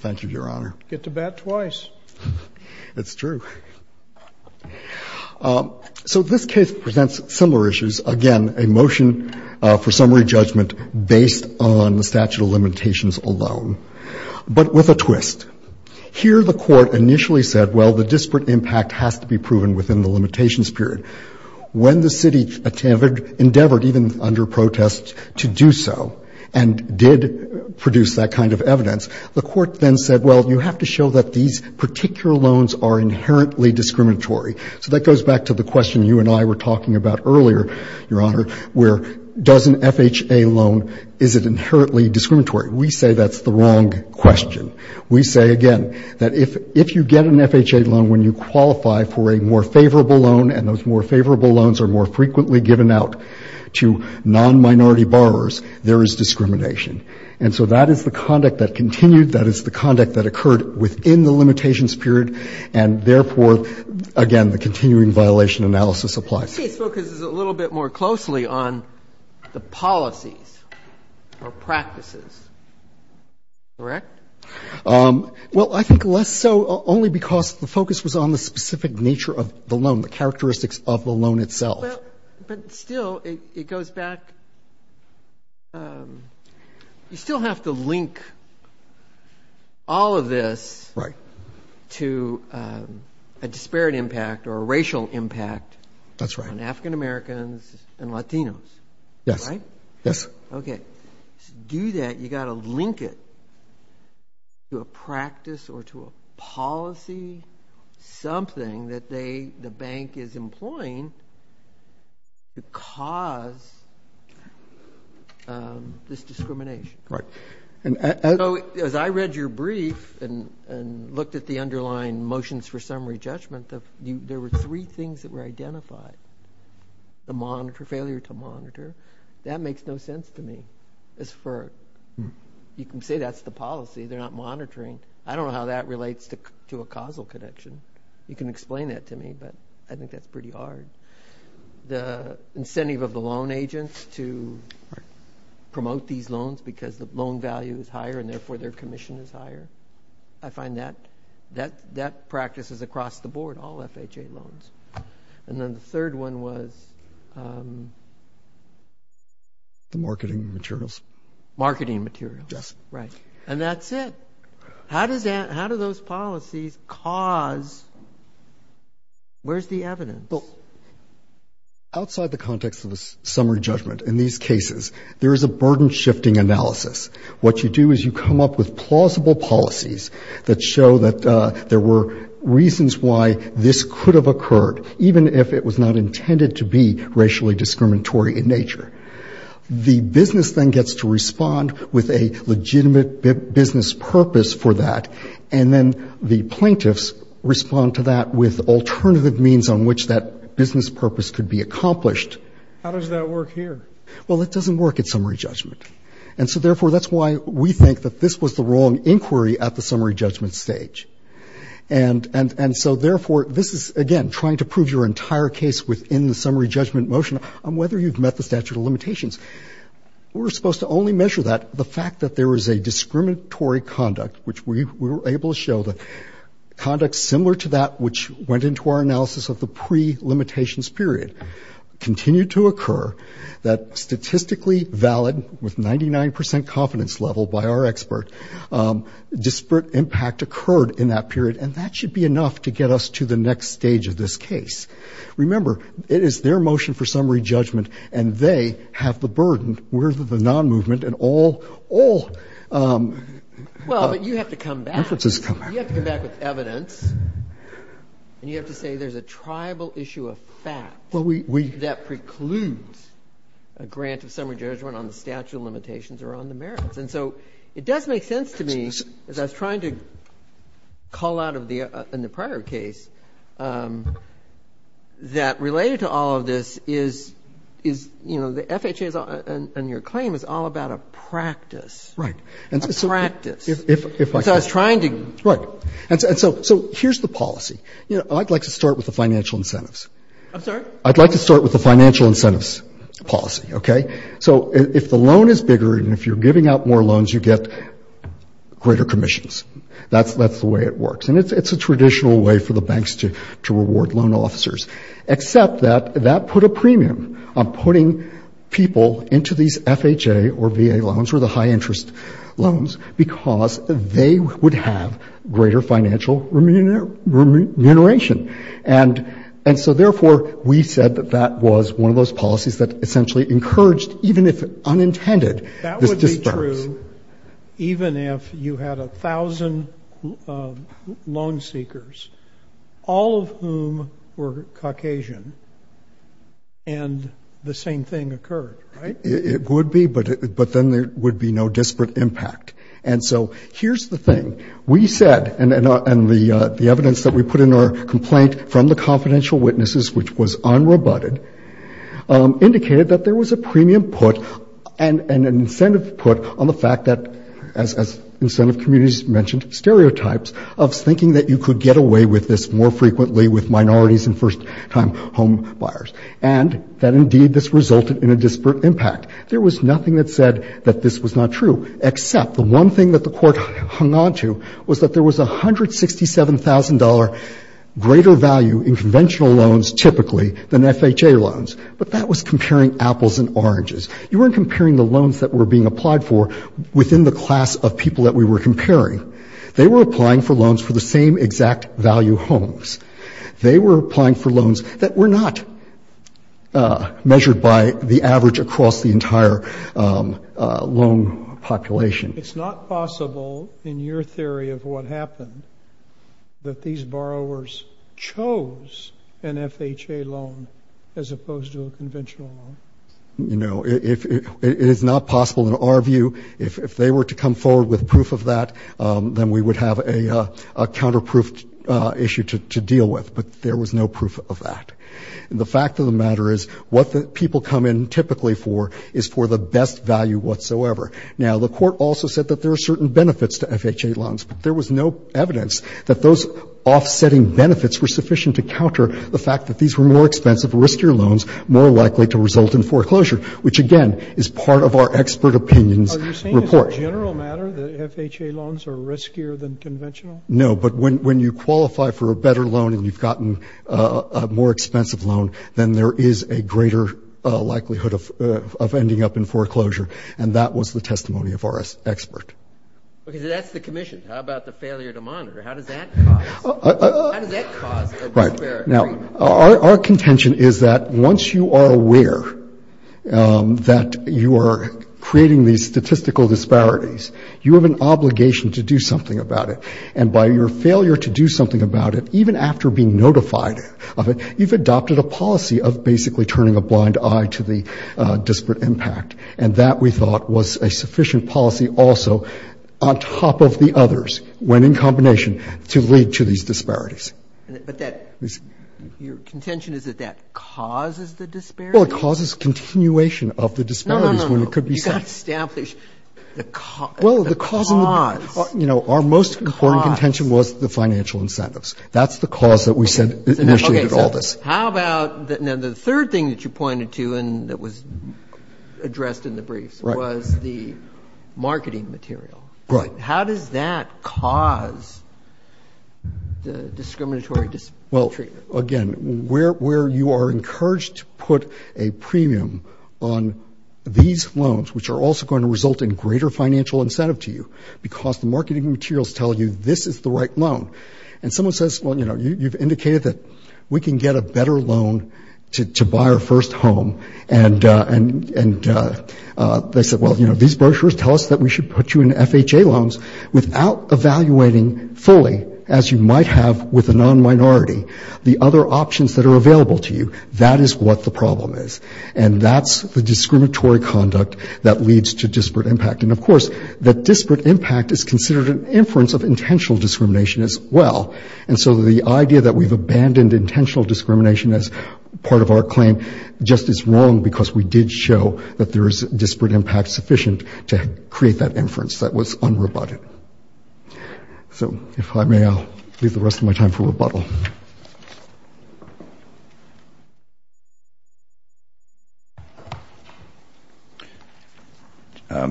Thank you, Your Honor. Get to bat twice. It's true. So this case presents similar issues. Again, a motion for summary judgment based on the statute of limitations alone, but with a twist. Here the court initially said, well, the disparate impact has to be proven within the limitations period. When the city endeavored, even under protest, to do so and did produce that kind of evidence, the court then said, well, you have to show that these particular loans are inherently discriminatory. So that goes back to the question you and I were talking about earlier, Your Honor, where does an FHA loan, is it inherently discriminatory? We say that's the wrong question. We say, again, that if you get an FHA loan when you qualify for a more favorable loan, and those more favorable loans are more frequently given out to non-minority borrowers, there is discrimination. And so that is the conduct that continued. That is the conduct that occurred within the limitations period. And therefore, again, the continuing violation analysis applies. This case focuses a little bit more closely on the policies or practices, correct? Well, I think less so only because the focus was on the specific nature of the loan, the characteristics of the loan itself. But still, it goes back, you still have to link all of this to a disparate impact or a racial impact on African-Americans and Latinos, right? Yes. Yes. Okay. To do that, you got to link it to a practice or to a policy, something that the bank is employing to cause this discrimination. Right. As I read your brief and looked at the underlying motions for summary judgment, there were three things that were identified, the monitor, failure to monitor. That makes no sense to me as for, you can say that's the policy, they're not monitoring. I don't know how that relates to a causal connection. You can explain that to me, but I think that's pretty hard. The incentive of the loan agents to promote these loans because the loan value is higher and therefore their commission is higher, I find that practices across the board, all FHA loans. And then the third one was. The marketing materials. Marketing materials. Yes. Right. And that's it. How does that, how do those policies cause, where's the evidence? Well, outside the context of the summary judgment in these cases, there is a burden shifting analysis. What you do is you come up with plausible policies that show that there were reasons why this could have occurred, even if it was not intended to be racially discriminatory in nature. The business then gets to respond with a legitimate business purpose for that. And then the plaintiffs respond to that with alternative means on which that business purpose could be accomplished. How does that work here? Well, it doesn't work at summary judgment. And so, therefore, that's why we think that this was the wrong inquiry at the summary judgment stage. And so, therefore, this is, again, trying to prove your entire case within the summary judgment motion on whether you've met the statute of limitations. We're supposed to only measure that the fact that there is a discriminatory conduct, which we were able to show that conduct similar to that which went into our analysis of the pre-limitations period, continued to occur, that statistically valid, with 99 percent confidence level by our expert, disparate impact occurred in that period. And that should be enough to get us to the next stage of this case. Remember, it is their motion for summary judgment, and they have the burden. We're the non-movement, and all, all... Well, but you have to come back. You have to come back with evidence. And you have to say there's a tribal issue of fact that precludes a grant of summary judgment on the statute of limitations or on the merits. And so it does make sense to me, as I was trying to call out in the prior case, that related to all of this is, you know, the FHA and your claim is all about a practice. Right. A practice. So I was trying to... Right. And so here's the policy. You know, I'd like to start with the financial incentives. I'm sorry? I'd like to start with the financial incentives policy, okay? So if the loan is bigger, and if you're giving out more loans, you get greater commissions. That's the way it works. And it's a traditional way for the banks to reward loan officers. Except that that put a premium on putting people into these FHA or VA loans, or the high-interest loans, because they would have greater financial remuneration. And so, therefore, we said that that was one of those policies that essentially encouraged, even if unintended, this disbursement. That would be true even if you had a thousand loan seekers, all of whom were Caucasian, and the same thing occurred, right? It would be, but then there would be no disparate impact. And so here's the thing. We said, and the evidence that we put in our complaint from the confidential witnesses, which was unrebutted, indicated that there was a premium put and an incentive put on the fact that, as incentive communities mentioned, stereotypes of thinking that you could get away with this more frequently with minorities and first-time home buyers. And that, indeed, this resulted in a disparate impact. There was nothing that said that this was not true, except the one thing that the Court hung on to was that there was a $167,000 greater value in conventional loans, typically, than FHA loans. But that was comparing apples and oranges. You weren't comparing the loans that were being applied for within the class of people that we were comparing. They were applying for loans for the same exact value homes. They were applying for loans that were not measured by the average across the entire loan population. It's not possible, in your theory of what happened, that these borrowers chose an FHA loan as opposed to a conventional loan? You know, it is not possible in our view. If they were to come forward with proof of that, then we would have a counterproof issue to deal with. But there was no proof of that. The fact of the matter is, what the people come in typically for is for the best value whatsoever. Now, the Court also said that there are certain benefits to FHA loans, but there was no evidence that those offsetting benefits were sufficient to counter the fact that these were more expensive, riskier loans, more likely to result in foreclosure, which, again, is part of our expert opinions report. Are you saying as a general matter that FHA loans are riskier than conventional? No, but when you qualify for a better loan and you've gotten a more expensive loan, then there is a greater likelihood of ending up in foreclosure. And that was the testimony of our expert. Okay, so that's the commission. How about the failure to monitor? How does that cause a disparate agreement? Our contention is that once you are aware that you are creating these statistical disparities, you have an obligation to do something about it. And by your failure to do something about it, even after being notified of it, you've adopted a policy of basically turning a blind eye to the disparate impact. And that, we thought, was a sufficient policy also on top of the others, when in combination, to lead to these disparities. But that, your contention is that that causes the disparities? Well, it causes continuation of the disparities when it could be set. No, no, no, you've got to establish the cause. Well, the cause, you know, our most important contention was the financial incentives. That's the cause that we said initiated all this. Okay, so how about, now the third thing that you pointed to and that was addressed in the briefs was the marketing material. Right. How does that cause the discriminatory treatment? Well, again, where you are encouraged to put a premium on these loans, which are also going to result in greater financial incentive to you, because the marketing materials tell you this is the right loan. And someone says, well, you know, you've indicated that we can get a better loan to buy our first home. And they said, well, you know, these brochures tell us that we should put you in FHA loans without evaluating fully, as you might have with a non-minority, the other options that are available to you. That is what the problem is. And that's the discriminatory conduct that leads to disparate impact. And, of course, that disparate impact is considered an inference of intentional discrimination as well. And so the idea that we've abandoned intentional discrimination as part of our claim just is wrong because we did show that there is disparate impact sufficient to create that inference that was unroboted. So if I may, I'll leave the rest of my time for rebuttal.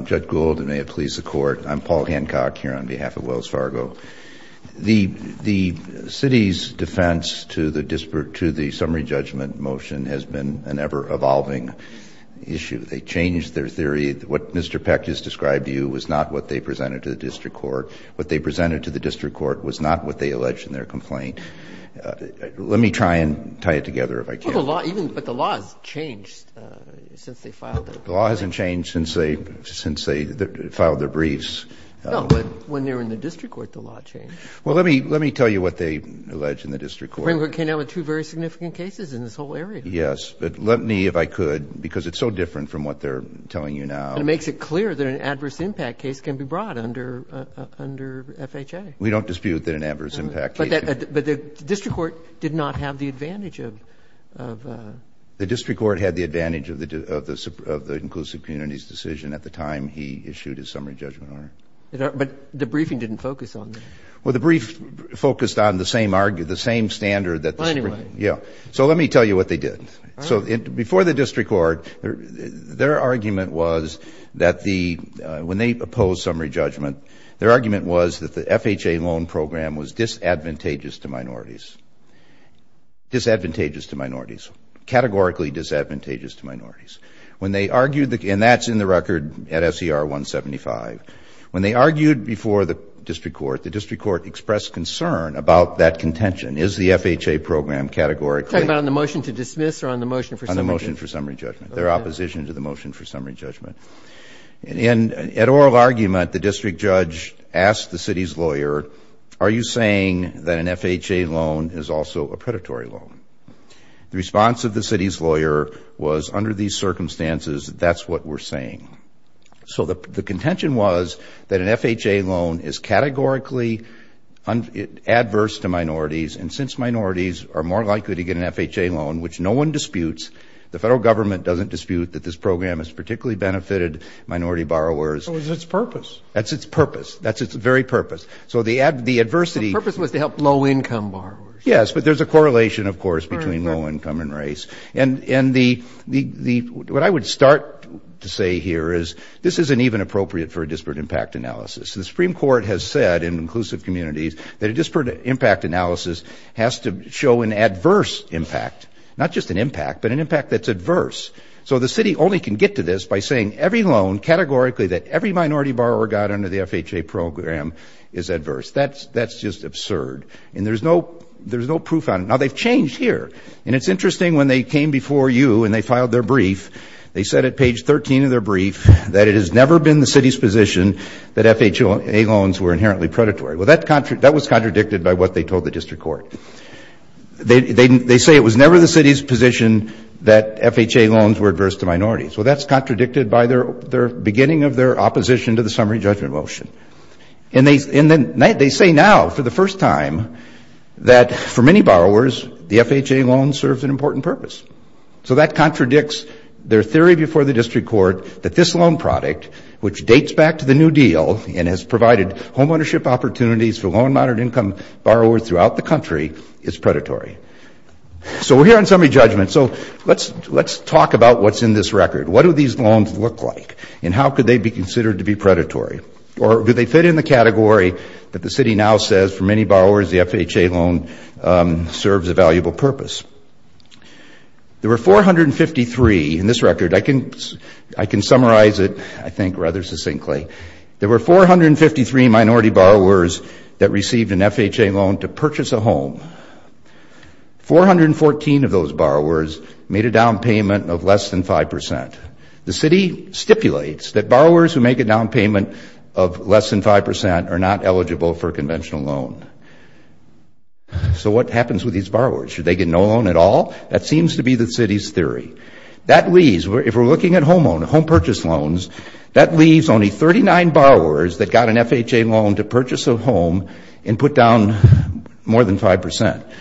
Judge Gould, and may it please the Court, I'm Paul Hancock here on behalf of Wells Fargo. The city's defense to the summary judgment motion has been an ever-evolving issue. They changed their theory. What Mr. Peck just described to you was not what they presented to the district court. What they presented to the district court was not what they alleged in their complaint. Let me try and tie it together if I can. But the law has changed since they filed their briefs. The law hasn't changed since they filed their briefs. No, but when they were in the district court, the law changed. Well, let me tell you what they alleged in the district court. The Supreme Court came down with two very significant cases in this whole area. Yes, but let me, if I could, because it's so different from what they're telling you now. And it makes it clear that an adverse impact case can be brought under FHA. We don't dispute that an adverse impact case can be brought. But the district court did not have the advantage of the inclusive communities decision at the time he issued his summary judgment order. But the briefing didn't focus on that. Well, the brief focused on the same standard that the Supreme Court. So let me tell you what they did. So before the district court, their argument was that when they opposed summary judgment, their argument was that the FHA loan program was disadvantageous to minorities, and that's in the record at SER 175. When they argued before the district court, the district court expressed concern about that contention. Is the FHA program categorically? Are you talking about on the motion to dismiss or on the motion for summary judgment? On the motion for summary judgment, their opposition to the motion for summary judgment. And at oral argument, the district judge asked the city's lawyer, are you saying that an FHA loan is also a predatory loan? The response of the city's lawyer was, under these circumstances, that's what we're saying. So the contention was that an FHA loan is categorically adverse to minorities, and since minorities are more likely to get an FHA loan, which no one disputes, the federal government doesn't dispute that this program has particularly benefited minority borrowers. So it's its purpose. That's its purpose. That's its very purpose. So the adversity. The purpose was to help low-income borrowers. Yes, but there's a correlation, of course, between low income and race. And what I would start to say here is this isn't even appropriate for a disparate impact analysis. The Supreme Court has said in inclusive communities that a disparate impact analysis has to show an adverse impact, not just an impact, but an impact that's adverse. So the city only can get to this by saying every loan, categorically, that every minority borrower got under the FHA program is adverse. That's just absurd. And there's no proof on it. Now, they've changed here. And it's interesting when they came before you and they filed their brief, they said at page 13 of their brief that it has never been the city's position that FHA loans were inherently predatory. Well, that was contradicted by what they told the district court. They say it was never the city's position that FHA loans were adverse to minorities. Well, that's contradicted by the beginning of their opposition to the summary judgment motion. And they say now for the first time that for many borrowers, the FHA loan serves an important purpose. So that contradicts their theory before the district court that this loan product, which dates back to the New Deal and has provided homeownership opportunities for low and moderate income borrowers throughout the country, is predatory. So we're here on summary judgment. So let's talk about what's in this record. What do these loans look like? And how could they be considered to be predatory? Or do they fit in the category that the city now says for many borrowers the FHA loan serves a valuable purpose? There were 453 in this record. I can summarize it, I think, rather succinctly. There were 453 minority borrowers that received an FHA loan to purchase a home. 414 of those borrowers made a down payment of less than 5%. The city stipulates that borrowers who make a down payment of less than 5% are not eligible for a conventional loan. So what happens with these borrowers? Should they get no loan at all? That seems to be the city's theory. That leaves, if we're looking at home purchase loans, that leaves only 39 borrowers that got an FHA loan to purchase a home and put down more than 5%.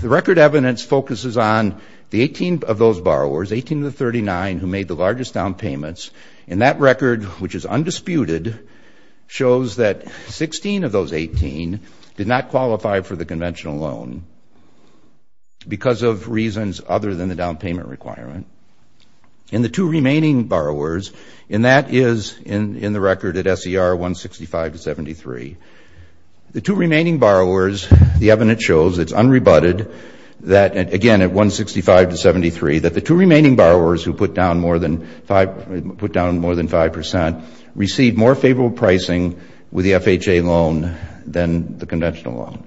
The record evidence focuses on the 18 of those borrowers, 18 of the 39 who made the largest down payments, and that record, which is undisputed, shows that 16 of those 18 did not qualify for the conventional loan because of reasons other than the down payment requirement. In the two remaining borrowers, and that is in the record at SER 165-73, the two remaining borrowers, the evidence shows, it's unrebutted, that, again, at 165-73, that the two remaining borrowers who put down more than 5% received more favorable pricing with the FHA loan than the conventional loan.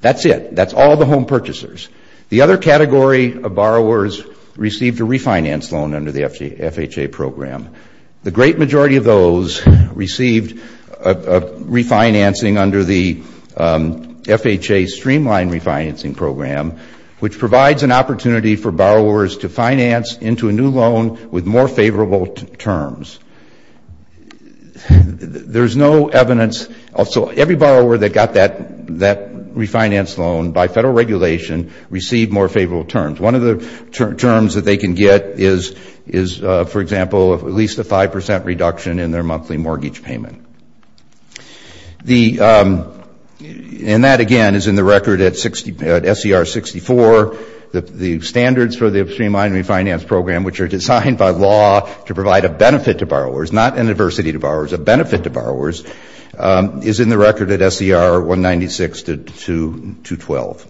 That's it. That's all the home purchasers. The other category of borrowers received a refinance loan under the FHA program. The great majority of those received refinancing under the FHA streamlined refinancing program, which provides an opportunity for borrowers to finance into a new loan with more favorable terms. There's no evidence, so every borrower that got that refinance loan by federal regulation received more favorable terms. One of the terms that they can get is, for example, at least a 5% reduction in their monthly mortgage payment. And that, again, is in the record at SER 64. The standards for the streamlined refinance program, which are designed by law to provide a benefit to borrowers, not an adversity to borrowers, a benefit to borrowers, is in the record at SER 196-212.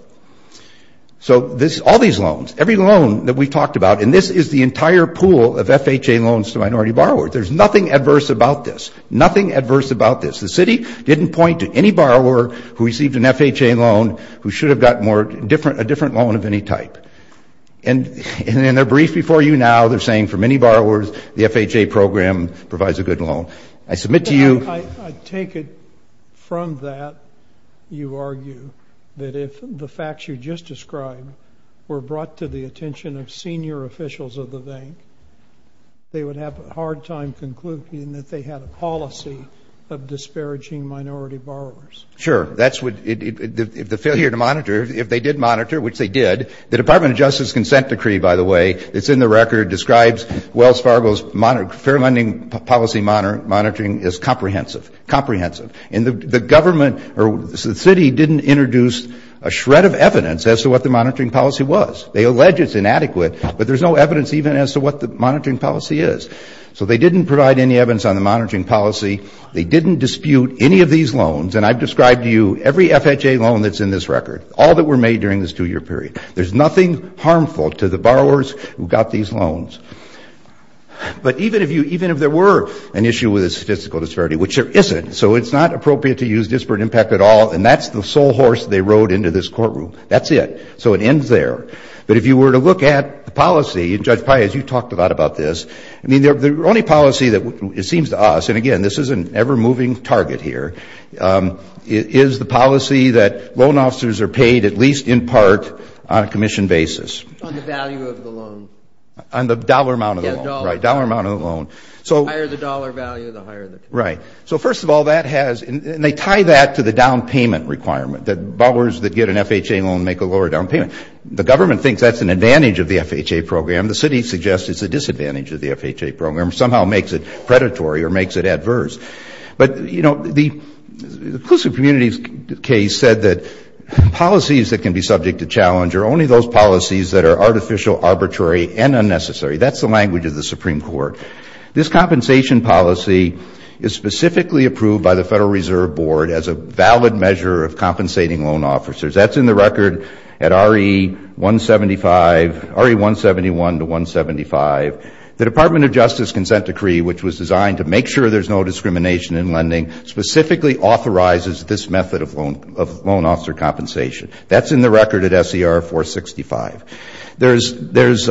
So all these loans, every loan that we've talked about, and this is the entire pool of FHA loans to minority borrowers. There's nothing adverse about this. Nothing adverse about this. The city didn't point to any borrower who received an FHA loan who should have gotten a different loan of any type. And in their brief before you now, they're saying for many borrowers, the FHA program provides a good loan. I submit to you. I take it from that, you argue, that if the facts you just described were brought to the attention of senior officials of the bank, they would have a hard time concluding that they had a policy of disparaging minority borrowers. Sure. That's what the failure to monitor, if they did monitor, which they did. The Department of Justice consent decree, by the way, that's in the record describes Wells Fargo's fair lending policy monitoring as comprehensive. And the government or the city didn't introduce a shred of evidence as to what the monitoring policy was. They allege it's inadequate, but there's no evidence even as to what the monitoring policy is. So they didn't provide any evidence on the monitoring policy. They didn't dispute any of these loans. And I've described to you every FHA loan that's in this record, all that were made during this two-year period. There's nothing harmful to the borrowers who got these loans. But even if there were an issue with a statistical disparity, which there isn't, so it's not appropriate to use disparate impact at all, and that's the sole horse they rode into this courtroom. That's it. So it ends there. But if you were to look at the policy, and Judge Paez, you talked a lot about this, I mean, the only policy that it seems to us, and, again, this is an ever-moving target here, is the policy that loan officers are paid at least in part on a commission basis. On the value of the loan. On the dollar amount of the loan. Yeah, dollar. Right, dollar amount of the loan. The higher the dollar value, the higher the commission. Right. So, first of all, that has, and they tie that to the down payment requirement, that borrowers that get an FHA loan make a lower down payment. The government thinks that's an advantage of the FHA program. The city suggests it's a disadvantage of the FHA program, somehow makes it predatory or makes it adverse. But, you know, the inclusive communities case said that policies that can be subject to challenge are only those policies that are artificial, arbitrary, and unnecessary. That's the language of the Supreme Court. This compensation policy is specifically approved by the Federal Reserve Board as a valid measure of compensating loan officers. That's in the record at RE-171 to 175. The Department of Justice consent decree, which was designed to make sure there's no discrimination in lending, specifically authorizes this method of loan officer compensation. That's in the record at SER-465. There's,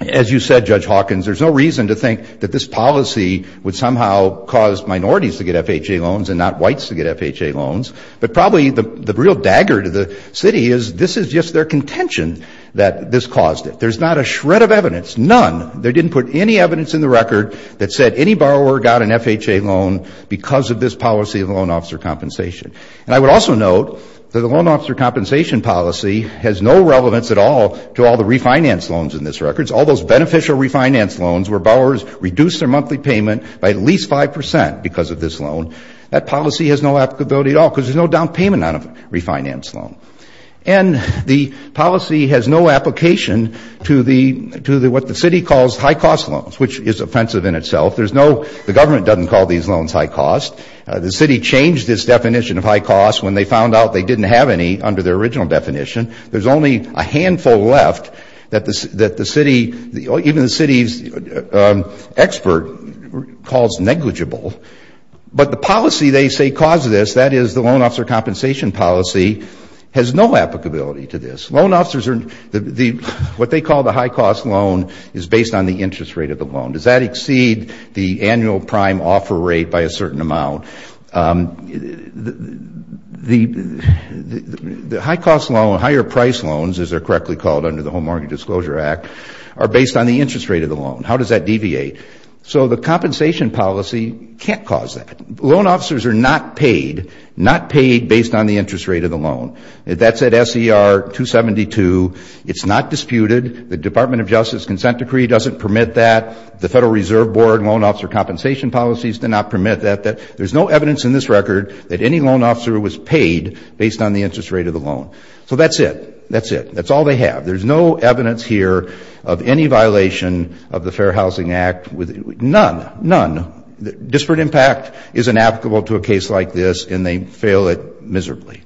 as you said, Judge Hawkins, there's no reason to think that this policy would somehow cause minorities to get FHA loans and not whites to get FHA loans. But probably the real dagger to the city is this is just their contention that this caused it. There's not a shred of evidence, none, they didn't put any evidence in the record that said any borrower got an FHA loan because of this policy of loan officer compensation. And I would also note that the loan officer compensation policy has no relevance at all to all the refinance loans in this record. It's all those beneficial refinance loans where borrowers reduce their monthly payment by at least 5% because of this loan. That policy has no applicability at all because there's no down payment on a refinance loan. And the policy has no application to what the city calls high cost loans, which is offensive in itself. There's no, the government doesn't call these loans high cost. The city changed its definition of high cost when they found out they didn't have any under their original definition. There's only a handful left that the city, even the city's expert calls negligible. But the policy they say caused this, that is the loan officer compensation policy, has no applicability to this. Loan officers are, what they call the high cost loan is based on the interest rate of the loan. Does that exceed the annual prime offer rate by a certain amount? The high cost loan, higher price loans, as they're correctly called under the Home Market Disclosure Act, are based on the interest rate of the loan. How does that deviate? So the compensation policy can't cause that. Loan officers are not paid, not paid based on the interest rate of the loan. That's at SER 272. It's not disputed. The Department of Justice consent decree doesn't permit that. The Federal Reserve Board loan officer compensation policies do not permit that. There's no evidence in this record that any loan officer was paid based on the interest rate of the loan. So that's it. That's it. That's all they have. There's no evidence here of any violation of the Fair Housing Act. None. None. Disparate impact is inapplicable to a case like this, and they fail it miserably.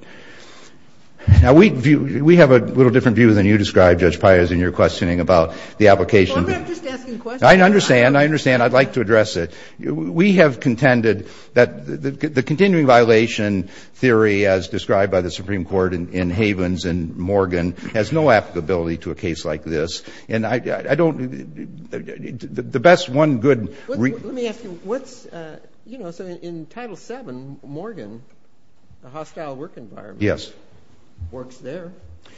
Now, we have a little different view than you describe, Judge Pires, in your questioning about the application. Well, I'm not just asking questions. I understand. I understand. I'd like to address it. We have contended that the continuing violation theory as described by the Supreme Court in Havens and Morgan has no applicability to a case like this. And I don't the best one good. Let me ask you, what's, you know, so in Title VII, Morgan, the hostile work environment. Yes. Works there.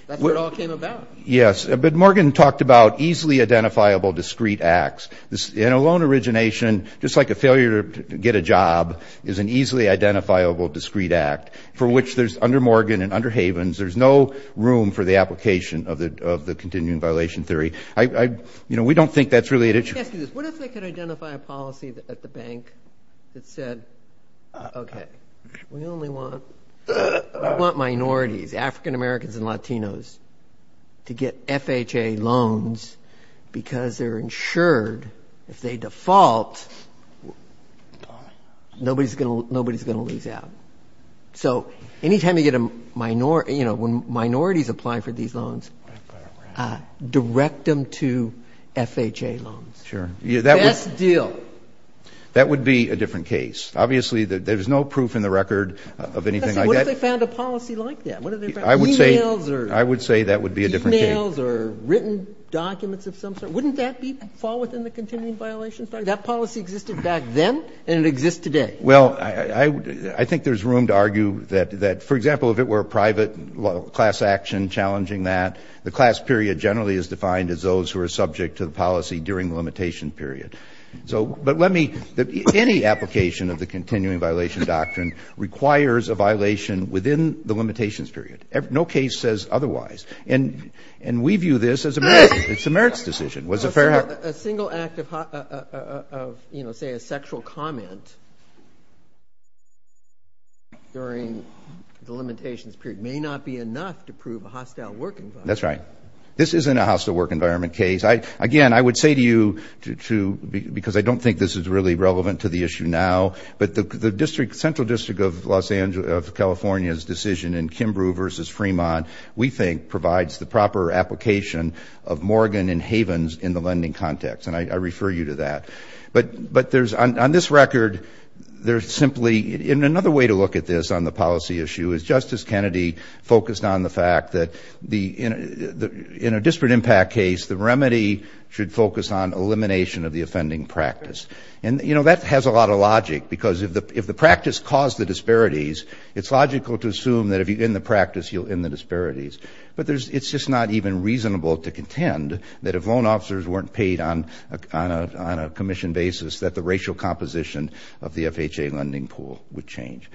That's where it all came about. Yes. But Morgan talked about easily identifiable discrete acts. And a loan origination, just like a failure to get a job, is an easily identifiable discrete act for which there's, under Morgan and under Havens, there's no room for the application of the continuing violation theory. I, you know, we don't think that's really an issue. Let me ask you this. What if they could identify a policy at the bank that said, okay, we only want minorities, African Americans and Latinos, to get FHA loans because they're insured. If they default, nobody's going to lose out. So anytime you get a minority, you know, when minorities apply for these loans, direct them to FHA loans. Sure. Best deal. That would be a different case. Obviously, there's no proof in the record of anything like that. What if they found a policy like that? I would say that would be a different case. E-mails or written documents of some sort, wouldn't that fall within the continuing violation theory? That policy existed back then and it exists today. Well, I think there's room to argue that, for example, if it were a private class action challenging that, the class period generally is defined as those who are subject to the policy during the limitation period. So, but let me, any application of the continuing violation doctrine requires a violation within the limitations period. No case says otherwise. And we view this as a merits decision. It's a merits decision. A single act of, you know, say a sexual comment during the limitations period may not be enough to prove a hostile work environment. That's right. This isn't a hostile work environment case. Again, I would say to you, because I don't think this is really relevant to the issue now, but the central district of California's decision in Kimbrough versus Fremont, we think provides the proper application of Morgan and Havens in the lending context, and I refer you to that. But there's, on this record, there's simply, and another way to look at this on the policy issue is Justice Kennedy focused on the fact that the, in a disparate impact case, the remedy should focus on elimination of the offending practice. And, you know, that has a lot of logic because if the practice caused the disparities, it's just not even reasonable to contend that if loan officers weren't paid on a commission basis that the racial composition of the FHA lending pool would change.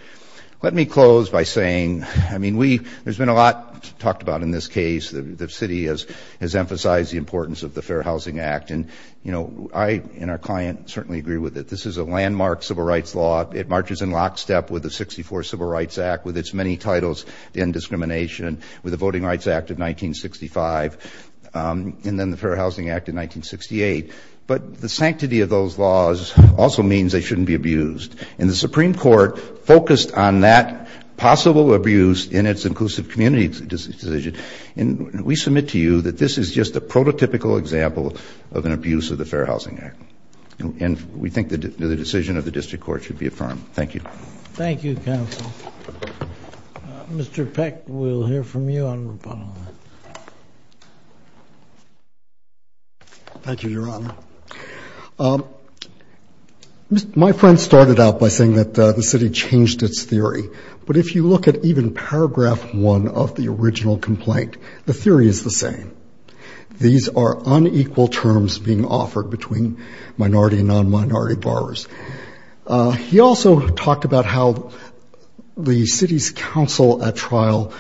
Let me close by saying, I mean, we, there's been a lot talked about in this case. The city has emphasized the importance of the Fair Housing Act. And, you know, I and our client certainly agree with it. This is a landmark civil rights law. It marches in lockstep with the 64 Civil Rights Act, with its many titles in discrimination, with the Voting Rights Act of 1965, and then the Fair Housing Act of 1968. But the sanctity of those laws also means they shouldn't be abused. And the Supreme Court focused on that possible abuse in its inclusive community decision. And we submit to you that this is just a prototypical example of an abuse of the Fair Housing Act. And we think the decision of the district court should be affirmed. Thank you. Thank you, counsel. Mr. Peck, we'll hear from you on Rapallo. Thank you, Your Honor. My friend started out by saying that the city changed its theory. But if you look at even Paragraph 1 of the original complaint, the theory is the same. These are unequal terms being offered between minority and non-minority borrowers. He also talked about how the city's counsel at trial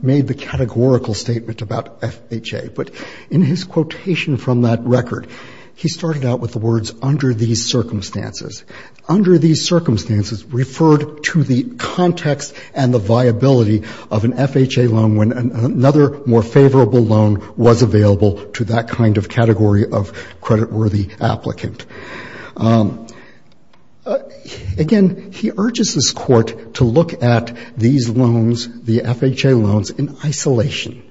made the categorical statement about FHA. But in his quotation from that record, he started out with the words, Under these circumstances. Under these circumstances referred to the context and the viability of an FHA loan when another more favorable loan was available to that kind of category of creditworthy applicant. Again, he urges this court to look at these loans, the FHA loans, in isolation.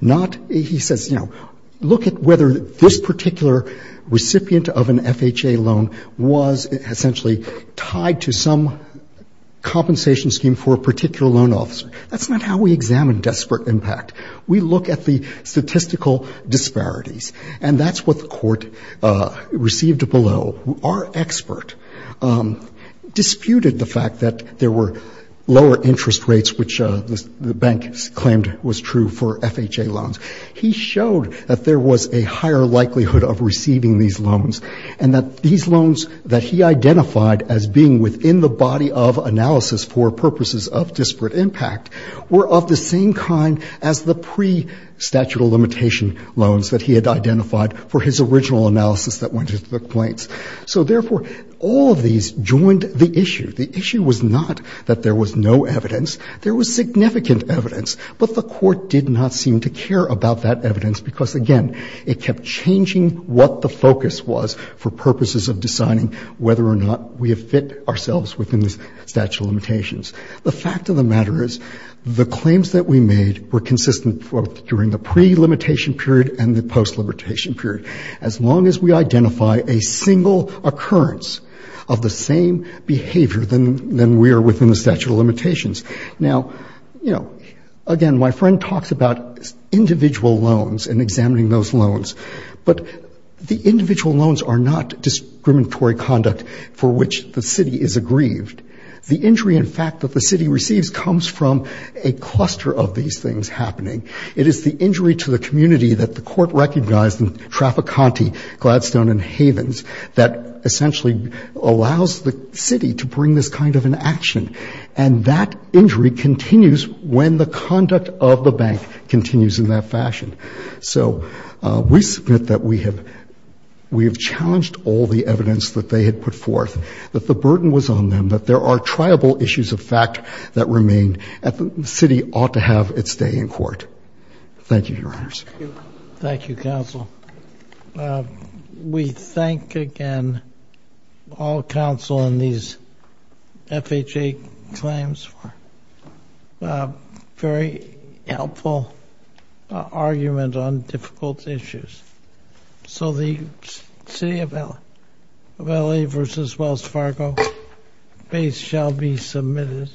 Not, he says, you know, look at whether this particular recipient of an FHA loan was essentially tied to some compensation scheme for a particular loan officer. That's not how we examine desperate impact. We look at the statistical disparities. And that's what the court received below. Our expert disputed the fact that there were lower interest rates, which the bank claimed was true for FHA loans. He showed that there was a higher likelihood of receiving these loans and that these loans that he identified as being within the body of analysis for purposes of disparate impact were of the same kind as the pre-statute of limitation loans that he had identified for his original analysis that went into the complaints. So, therefore, all of these joined the issue. The issue was not that there was no evidence. There was significant evidence. But the court did not seem to care about that evidence because, again, it kept changing what the focus was for purposes of deciding whether or not we have ourselves within the statute of limitations. The fact of the matter is the claims that we made were consistent both during the pre-limitation period and the post-liberation period, as long as we identify a single occurrence of the same behavior than we are within the statute of limitations. Now, you know, again, my friend talks about individual loans and examining those loans, but the individual loans are not discriminatory conduct for which the city is aggrieved. The injury, in fact, that the city receives comes from a cluster of these things happening. It is the injury to the community that the court recognized in Traficante, Gladstone, and Havens that essentially allows the city to bring this kind of an action. And that injury continues when the conduct of the bank continues in that fashion. So we submit that we have challenged all the evidence that they had put forth, that the burden was on them, that there are triable issues of fact that remain, and the city ought to have its day in court. Thank you, Your Honors. Thank you, counsel. We thank again all counsel in these FHA claims for a very helpful argument on difficult issues. So the city of L.A. v. Wells Fargo case shall be submitted.